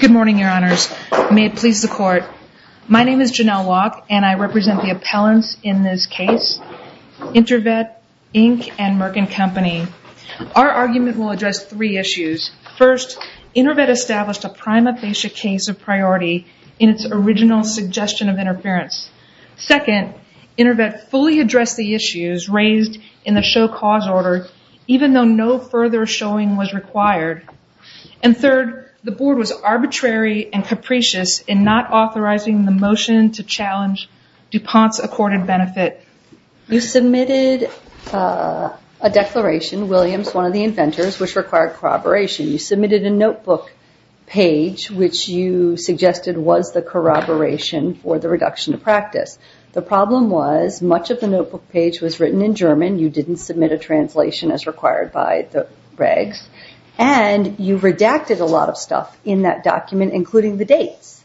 Good morning, Your Honors. May it please the Court. My name is Janelle Locke, and I represent the appellants in this case, Intervet Inc. and Merkin Company. Our argument will address three issues. First, Intervet established a prima facie case of priority in its original suggestion of interference. Second, Intervet fully addressed the issues raised in the show cause order, even though no further showing was required. And third, the Board was arbitrary and capricious in not authorizing the motion to challenge DuPont's accorded benefit. You submitted a declaration, Williams, one of the inventors, which required corroboration. You submitted a notebook page, which you suggested was the corroboration for the reduction of practice. The problem was, much of the notebook page was written in German. You didn't submit a translation as required by the regs. And you redacted a lot of stuff in that document, including the dates.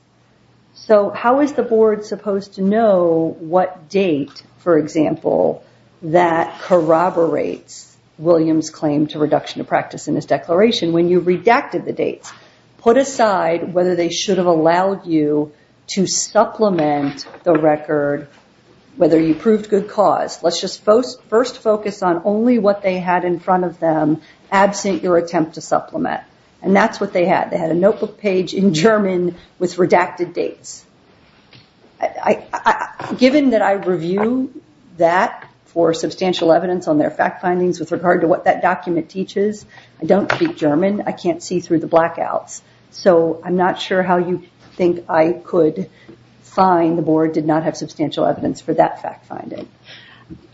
So how is the Board supposed to know what date, for example, that corroborates Williams' claim to reduction of practice in his declaration when you redacted the dates? Put aside whether they should have allowed you to supplement the record, whether you should focus on only what they had in front of them, absent your attempt to supplement. And that's what they had. They had a notebook page in German with redacted dates. Given that I review that for substantial evidence on their fact findings with regard to what that document teaches, I don't speak German. I can't see through the blackouts. So I'm not sure how you think I could find the Board did not have substantial evidence for that fact finding.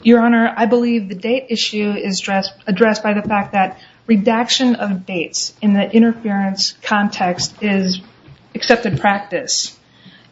Your Honor, I believe the date issue is addressed by the fact that redaction of dates in the interference context is accepted practice.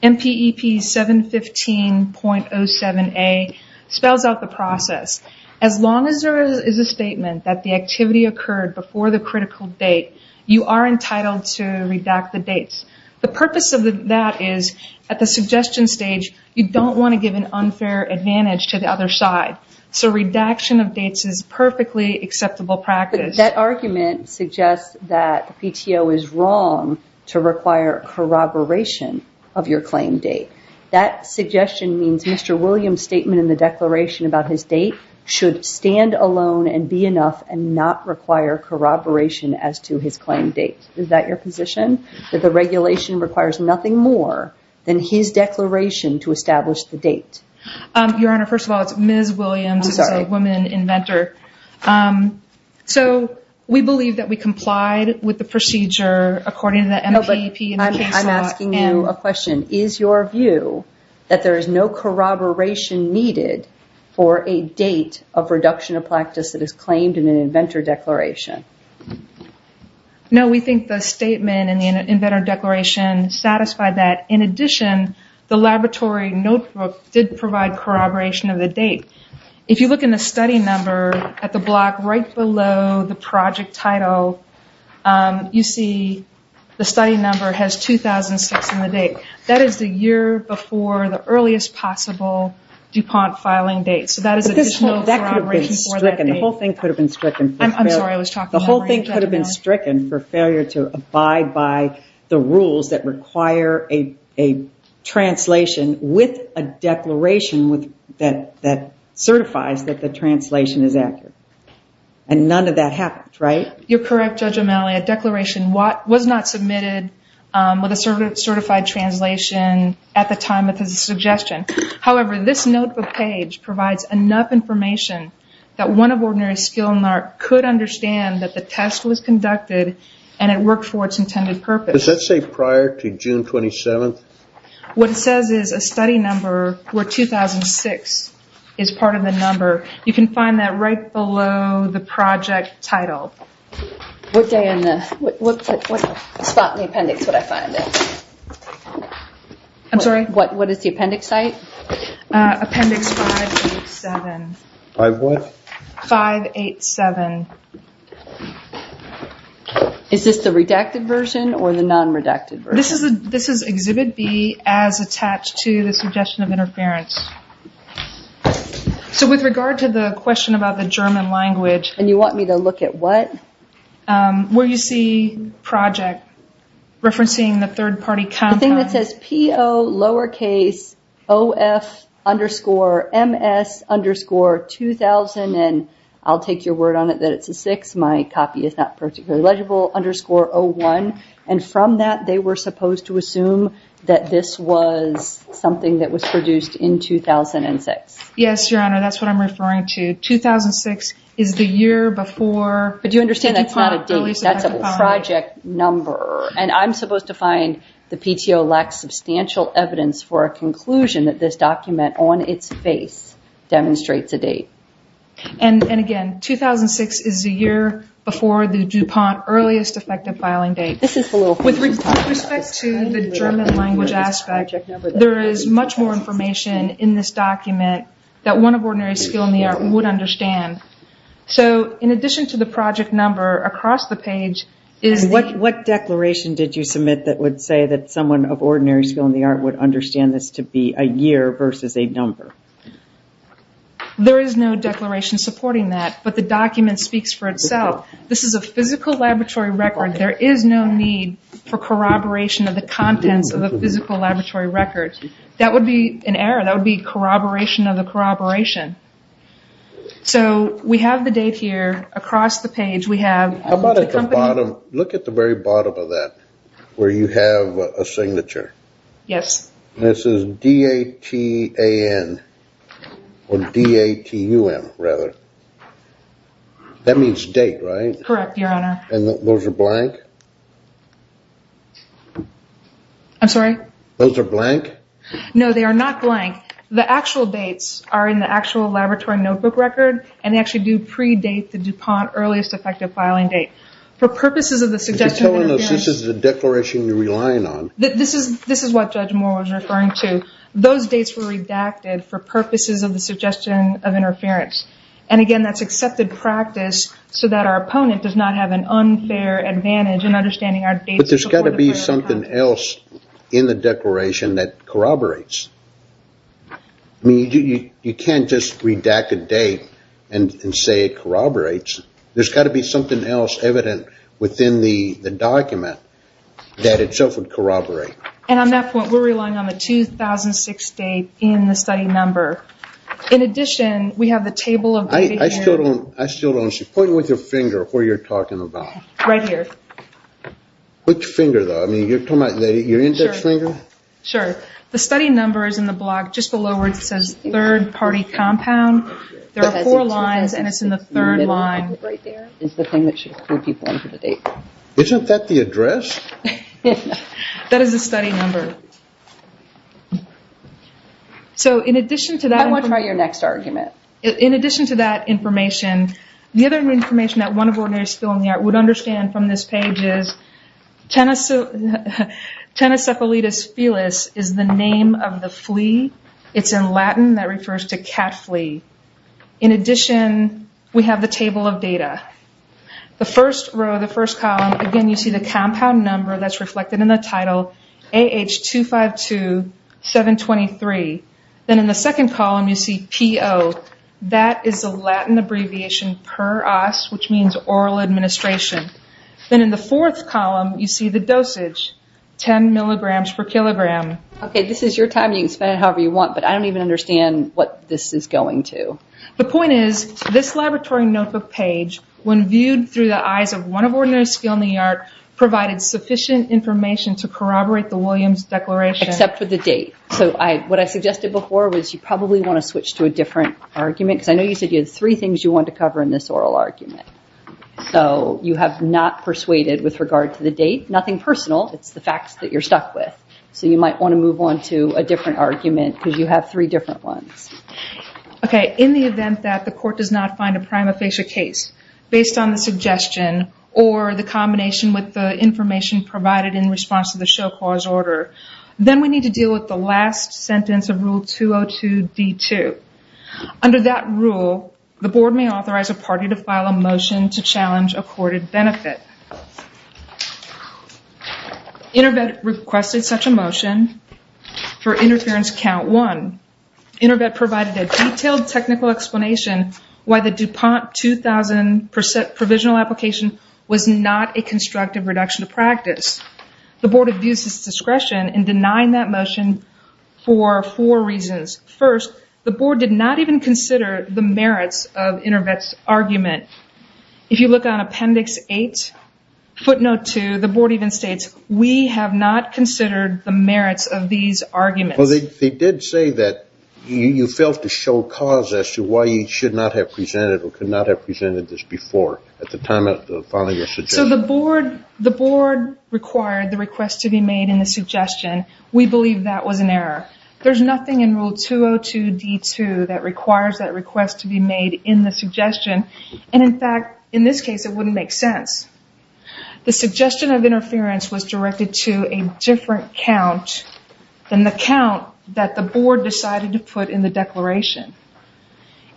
MPEP 715.07a spells out the process. As long as there is a statement that the activity occurred before the critical date, you are entitled to redact the dates. The purpose of that is, at the suggestion stage, you don't want to give an unfair advantage to the other side. So redaction of dates is perfectly acceptable practice. But that argument suggests that the PTO is wrong to require corroboration of your claim date. That suggestion means Mr. Williams' statement in the declaration about his date should stand alone and be enough and not require corroboration as to his claim date. Is that your position, that the regulation requires nothing more than his declaration to establish the date? Your Honor, first of all, it's Ms. Williams who is a woman inventor. So we believe that we complied with the procedure according to the MPEP and the case law. I'm asking you a question. Is your view that there is no corroboration needed for a date of reduction of practice that is claimed in an inventor declaration? No, we think the statement in the inventor declaration satisfied that. In addition, the laboratory notebook did provide corroboration of the date. If you look in the study number at the block right below the project title, you see the study number has 2006 in the date. That is the year before the earliest possible DuPont filing date. So that is additional corroboration for that date. The whole thing could have been stricken for failure to abide by the rules that require a translation with a declaration that certifies that the translation is accurate. And none of that happened, right? You're correct, Judge O'Malley. A declaration was not submitted with a certified translation at the time of his suggestion. However, this notebook page provides enough information that one of ordinary skill NARC could understand that the test was conducted and it worked for its intended purpose. Does that say prior to June 27th? What it says is a study number where 2006 is part of the number. You can find that right below the project title. What spot in the appendix would I find it? What is the appendix site? Appendix 587. 587. Is this the redacted version or the non-redacted version? This is Exhibit B as attached to the suggestion of interference. So with regard to the question about the German language. And you want me to look at what? Where you see project, referencing the third party content. The thing that says PO lowercase OF underscore MS underscore 2000 and I'll take your word on it that it's a six. My copy is not particularly legible. Underscore 01. And from that they were supposed to assume that this was something that was produced in 2006. Yes, Your Honor. That's what I'm referring to. 2006 is the year before. But you understand that's not a date. That's a project number. And I'm supposed to find the PTO lacks substantial evidence for a conclusion that this document on its face demonstrates a date. And again, 2006 is the year before the DuPont earliest effective filing date. With respect to the German language aspect, there is much more information in this document that one of ordinary skill in the art would understand. So in addition to the project number, across the page is the... What declaration did you submit that would say that someone of ordinary skill in the art would understand this to be a year versus a number? There is no declaration supporting that. But the document speaks for itself. This is a physical laboratory record. There is no need for corroboration of the contents of a physical laboratory record. That would be an error. That would be corroboration of the corroboration. So we have the date here across the page. We have... How about at the bottom? Look at the very bottom of that where you have a signature. Yes. This is D-A-T-A-N or D-A-T-U-M, rather. That means date, right? Correct, Your Honor. And those are blank? I'm sorry? Those are blank? No, they are not blank. The actual dates are in the actual laboratory notebook record, and they actually do predate the DuPont earliest effective filing date. For purposes of the suggestion of interference... But you're telling us this is a declaration you're relying on. This is what Judge Moore was referring to. Those dates were redacted for purposes of the suggestion of interference. And again, that's accepted practice so that our opponent does not have an unfair advantage in understanding our dates... But there's got to be something else in the declaration that corroborates. You can't just redact a date and say it corroborates. There's got to be something else evident within the document that itself would corroborate. And on that point, we're relying on the 2006 date in the study number. In addition, we have the table of... I still don't... Point with your finger where you're talking about. Right here. Which finger, though? I mean, you're talking about your index finger? Sure. The study number is in the block just below where it says third party compound. There are four lines, and it's in the third line right there. It's the thing that should include people into the date. Isn't that the address? That is the study number. So, in addition to that... I want to hear your next argument. In addition to that information, the other information that one of the ordinaries still in the art would understand from this page is, Tennocephalitis Felis is the name of the flea. It's in Latin. That refers to cat flea. In addition, we have the table of data. The first row, the first column, again, you see the compound number. That's reflected in the title, AH252723. Then in the second column, you see PO. That is a Latin abbreviation, PEROS, which means oral administration. Then in the fourth column, you see the dosage, 10 milligrams per kilogram. Okay, this is your time. You can spend it however you want, but I don't even understand what this is going to. The point is, this laboratory notebook page, when viewed through the eyes of one of the ordinaries still in the art, provided sufficient information to corroborate the Williams Declaration. Except for the date. What I suggested before was you probably want to switch to a different argument, because I know you said you had three things you wanted to cover in this oral argument. You have not persuaded with regard to the date. Nothing personal. It's the facts that you're stuck with. You might want to move on to a different argument, because you have three different ones. Okay, in the event that the court does not find a prima facie case, based on the suggestion or the combination with the information provided in response to the show clause order, then we need to deal with the last sentence of Rule 202-D2. Under that rule, the board may authorize a party to file a motion to challenge accorded benefit. InterVet requested such a motion for interference count one. InterVet provided a detailed technical explanation why the DuPont 2000 provisional application was not a constructive reduction of practice. The board abused its discretion in denying that motion for four reasons. First, the board did not even consider the merits of InterVet's argument. If you look on Appendix 8, footnote 2, the board even states, we have not considered the merits of these arguments. They did say that you failed to show cause as to why you should not have presented or could not have presented this before at the time of filing your suggestion. The board required the request to be made in the suggestion. We believe that was an error. There's nothing in Rule 202-D2 that requires that request to be made in the suggestion. In fact, in this case, it wouldn't make sense. The suggestion of interference was directed to a different count than the count that the board decided to put in the declaration.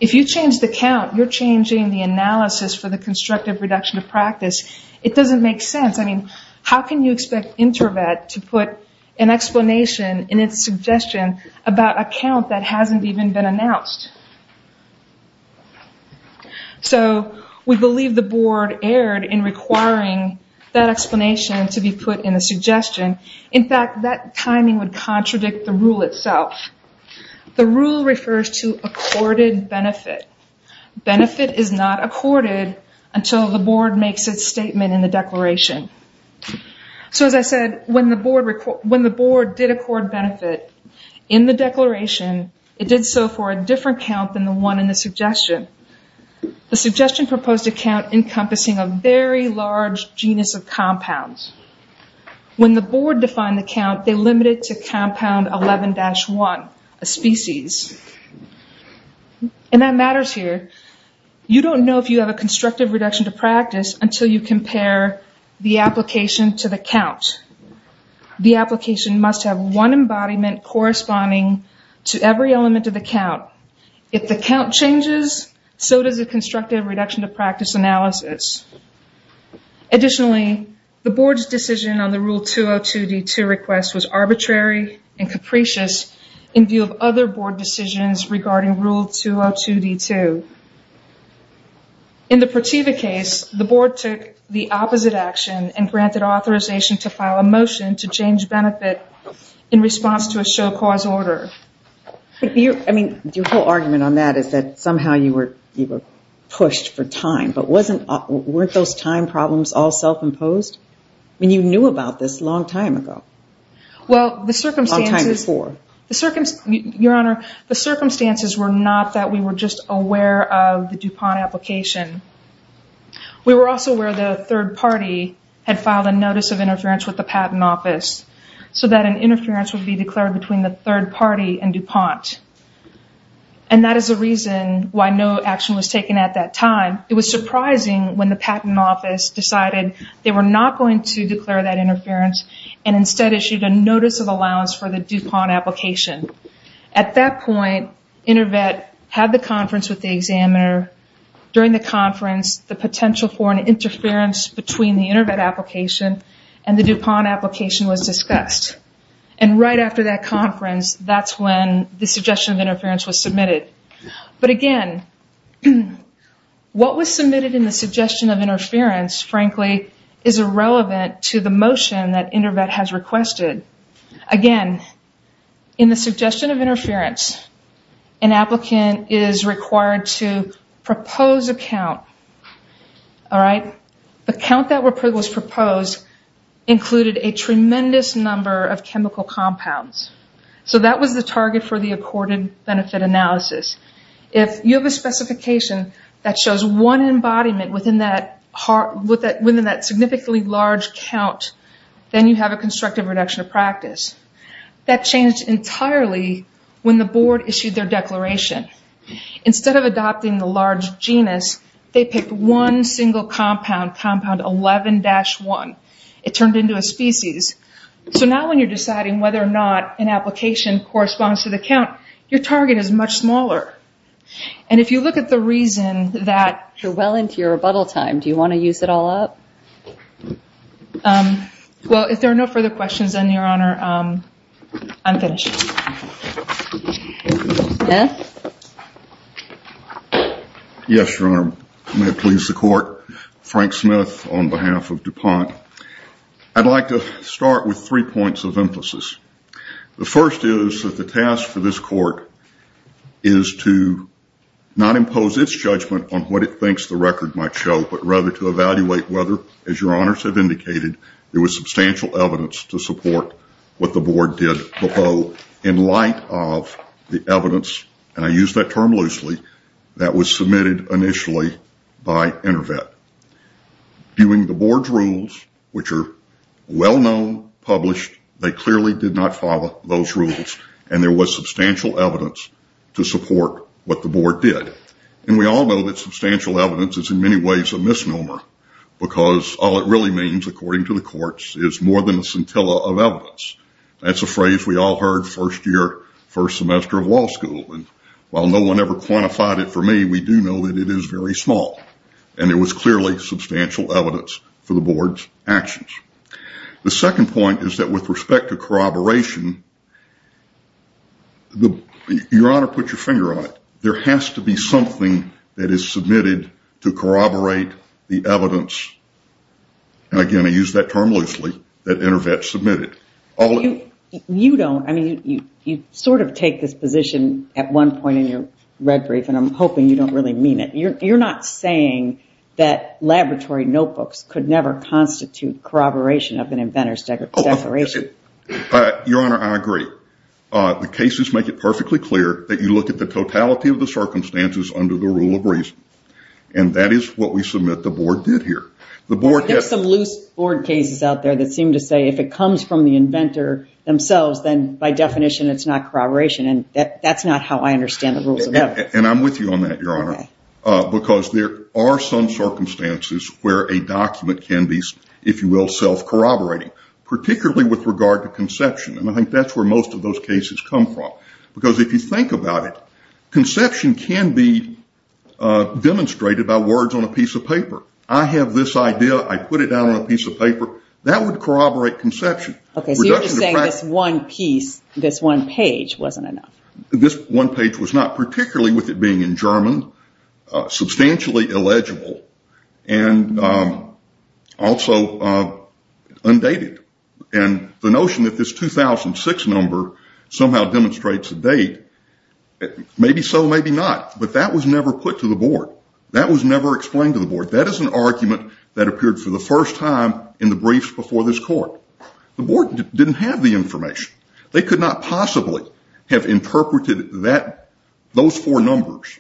If you change the count, you're changing the analysis for the constructive reduction of practice. It doesn't make sense. How can you expect InterVet to put an explanation in its suggestion about a count that hasn't even been announced? We believe the board erred in requiring that explanation to be put in a suggestion. In fact, that timing would contradict the rule itself. The rule refers to accorded benefit. Benefit is not accorded until the board makes its statement in the declaration. As I said, when the board did accord benefit in the declaration, it did so for a different count than the one in the suggestion. The suggestion proposed a count encompassing a very large genus of compounds. When the board defined the count, they limited it to compound 11-1, a species. That matters here. You don't know if you have a constructive reduction to practice until you compare the application to the count. The application must have one embodiment corresponding to every element of the count. If the count changes, so does the constructive reduction to practice analysis. Additionally, the board's decision on the Rule 202-D2 request was arbitrary and capricious in view of other board decisions regarding Rule 202-D2. In the Prativa case, the board took the opposite action and granted authorization to file a motion to change benefit in response to a show-cause order. Your whole argument on that is that somehow you were pushed for time, but weren't those time problems all self-imposed? You knew about this a long time ago. Well, the circumstances... Your Honor, the circumstances were not that we were just aware of the DuPont application. We were also aware the third party had filed a notice of interference with the Patent Office so that an interference would be declared between the third party and DuPont. And that is the reason why no action was taken at that time. It was surprising when the Patent Office decided they were not going to declare that interference and instead issued a notice of allowance for the DuPont application. At that point, InterVet had the conference with the examiner. During the conference, the potential for an interference between the InterVet application and the DuPont application was discussed. that's when the suggestion of interference was submitted. But again, what was submitted in the suggestion of interference, frankly, is irrelevant to the motion that InterVet has requested. Again, in the suggestion of interference, an applicant is required to propose a count. The count that was proposed included a tremendous number of chemical compounds. So that was the target for the accorded benefit analysis. If you have a specification that shows one embodiment within that significantly large count, then you have a constructive reduction of practice. That changed entirely when the board issued their declaration. Instead of adopting the large genus, they picked one single compound, compound 11-1. It turned into a species. So now when you're deciding whether or not an application corresponds to the count, your target is much smaller. And if you look at the reason that... You're well into your rebuttal time. Do you want to use it all up? Well, if there are no further questions then, Your Honor, I'm finished. Yes? Yes, Your Honor. May it please the Court. Frank Smith on behalf of DuPont. I'd like to start with three points of emphasis. The first is that the task for this Court is to not impose its judgment on what it thinks the record might show, but rather to evaluate whether, as Your Honors have indicated, there was substantial evidence to support what the Board did below in light of the evidence, and I use that term loosely, that was submitted initially by InterVet. Viewing the Board's rules, which are well known, published, they clearly did not follow those rules, and there was substantial evidence to support what the Board did. And we all know that substantial evidence is in many ways a misnomer, because all it really means, according to the courts, is more than a scintilla of evidence. That's a phrase we all heard first year, first semester of law school, and while no one ever quantified it for me, we do know that it is very small, and it was clearly substantial evidence for the Board's actions. The second point is that with respect to corroboration, Your Honor, put your finger on it, there has to be something that is submitted to corroborate the evidence, and again, I use that term loosely, that InterVet submitted. You sort of take this position at one point in your red brief, and I'm hoping you don't really mean it. You're not saying that laboratory notebooks could never constitute corroboration of an inventor's declaration. Your Honor, I agree. The cases make it perfectly clear that you look at the totality of the circumstances under the rule of reason, and that is what we submit the Board did here. There are some loose Board cases out there that seem to say if it comes from the inventor themselves, then by definition it's not corroboration, and that's not how I understand the rules of evidence. And I'm with you on that, Your Honor, because there are some circumstances where a document can be, if you will, self-corroborating, particularly with regard to conception, and I think that's where most of those cases come from, because if you think about it, conception can be demonstrated by words on a piece of paper. I have this idea, I put it down on a piece of paper. That would corroborate conception. Okay, so you're just saying this one piece, this one page wasn't enough. This one page was not, particularly with it being in German, substantially illegible and also undated. And the notion that this 2006 number somehow demonstrates a date, maybe so, maybe not, but that was never put to the Board. That was never explained to the Board. That is an argument that appeared for the first time in the briefs before this Court. The Board didn't have the information. They could not possibly have interpreted those four numbers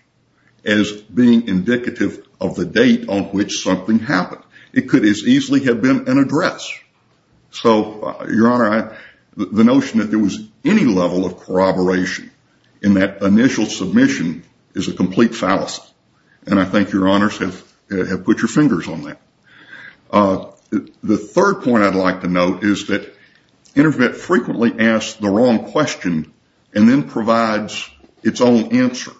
as being indicative of the date on which something happened. It could as easily have been an address. So, Your Honor, the notion that there was any level of corroboration in that initial submission is a complete fallacy. And I think Your Honors have put your fingers on that. The third point I'd like to note is that Intervet frequently asks the wrong question and then provides its own answer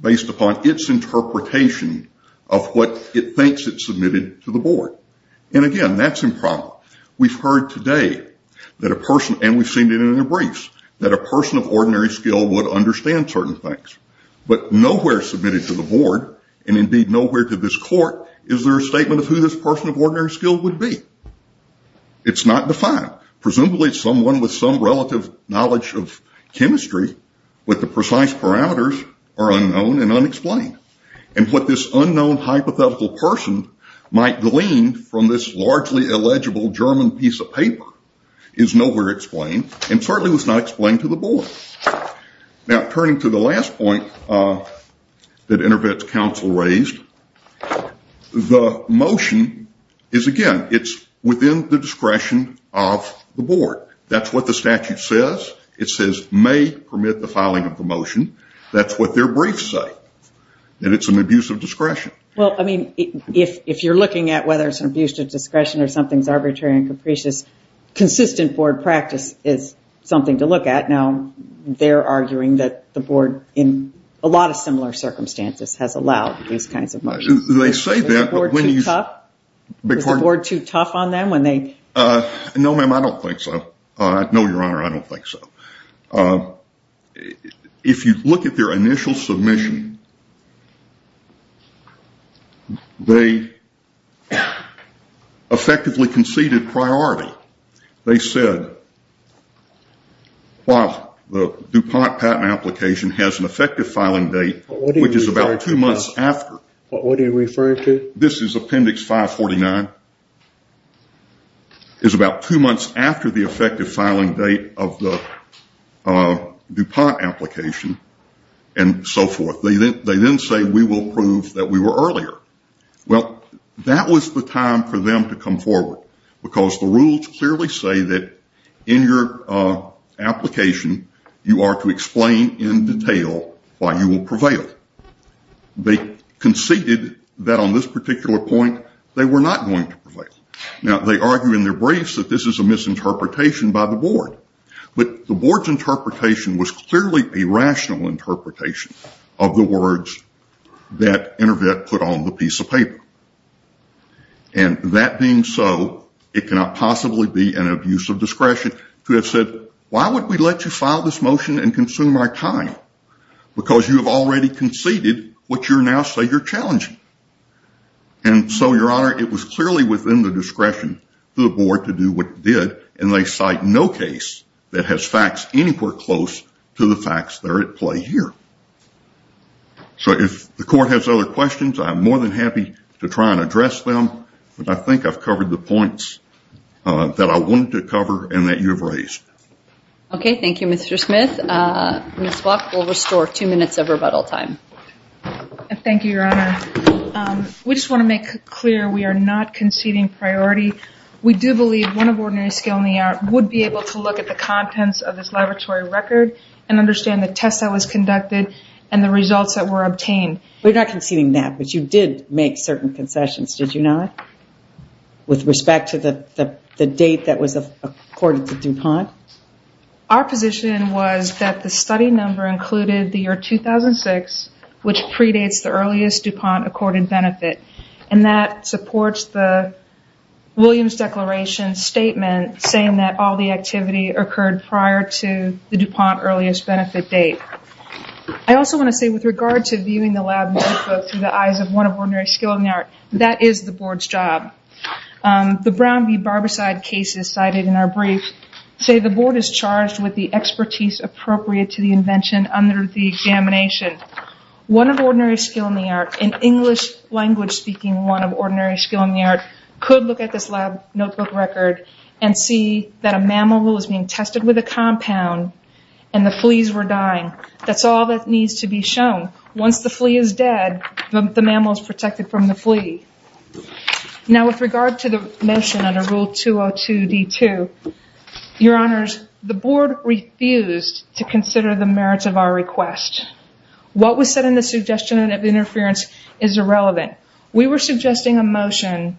based upon its interpretation of what it thinks it submitted to the Board. And again, that's improbable. We've heard today, and we've seen it in the briefs, that a person of ordinary skill would understand certain things. But nowhere submitted to the Board and indeed nowhere to this Court is there a statement of who this person of ordinary skill would be. It's not defined. Presumably it's someone with some relative knowledge of chemistry, but the precise parameters are unknown and unexplained. And what this unknown hypothetical person might glean from this largely illegible German piece of paper is nowhere explained and certainly was not explained to the Board. Now, turning to the last point that Intervet's counsel raised, the motion is, again, it's within the discretion of the Board. That's what the statute says. It says may permit the filing of the motion. That's what their briefs say. And it's an abuse of discretion. If you're looking at whether it's an abuse of discretion or something's arbitrary and capricious, consistent Board practice is something to look at. Now, they're arguing that the Board, in a lot of similar circumstances, has allowed these kinds of motions. Is the Board too tough on them? No, ma'am, I don't think so. No, Your Honor, I don't think so. If you look at their initial submission, they effectively conceded priority. They said, while the DuPont patent application has an effective filing date, which is about two months after What are you referring to? This is Appendix 549. It's about two months after the effective filing date of the DuPont application and so forth. They then say we will prove that we were earlier. Well, that was the time for them to come forward because the rules clearly say that in your application you are to explain in detail why you will prevail. They conceded that on this particular point they were not going to prevail. Now, they argue in their briefs that this is a misinterpretation by the Board. But the Board's interpretation was clearly a rational interpretation of the words that InterVet put on the piece of paper. And that being so, it cannot possibly be an abuse of discretion to have said, why would we let you file this motion and consume our time? Because you have already conceded what you now say you're challenging. And so, Your Honor, it was clearly within the discretion of the Board to do what it did and they cite no case that has facts anywhere close to the facts that are at play here. So, if the Court has other questions, I'm more than happy to try and address them. But I think I've covered the points that I wanted to cover and that you've raised. Okay, thank you, Mr. Smith. Ms. Walke will restore two minutes of rebuttal time. Thank you, Your Honor. We just want to make clear we are not conceding priority. We do believe one of Ordinary Skill and the Art would be able to look at the contents of this laboratory record and understand the tests that was conducted and the results that were obtained. We're not conceding that, but you did make certain concessions, did you not? With respect to the date that was accorded to DuPont? Our position was that the study number included the year 2006, which predates the earliest DuPont accorded benefit. And that supports the Williams Declaration statement saying that all the activity occurred prior to the DuPont earliest benefit date. I also want to say with regard to viewing the lab notebook through the eyes of one of Ordinary Skill and the Art, that is the Board's job. The Brown v. Barbicide cases cited in our brief say the Board is charged with the expertise appropriate to the invention under the examination. One of Ordinary Skill and the Art, in English language speaking, one of Ordinary Skill and the Art, could look at this lab notebook record and see that a mammal was being tested with a compound and the fleas were dying. That's all that needs to be shown. Once the flea is dead, the mammal is protected from the flea. Now with regard to the motion under Rule 202-D2, Your Honors, the Board refused to consider the merits of our request. What was said in the suggestion of interference is irrelevant. We were suggesting a motion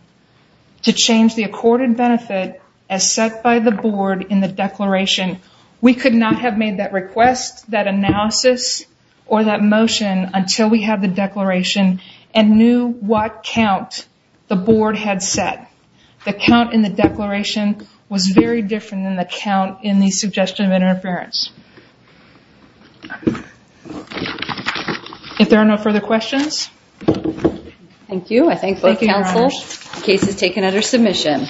to change the accorded benefit as set by the Board in the Declaration. We could not have made that request, that analysis, or that motion until we had the Declaration and knew what count the Board had set. The count in the Declaration was very different than the count in the suggestion of interference. If there are no further questions... Thank you. I thank both Councils. The case is taken under submission.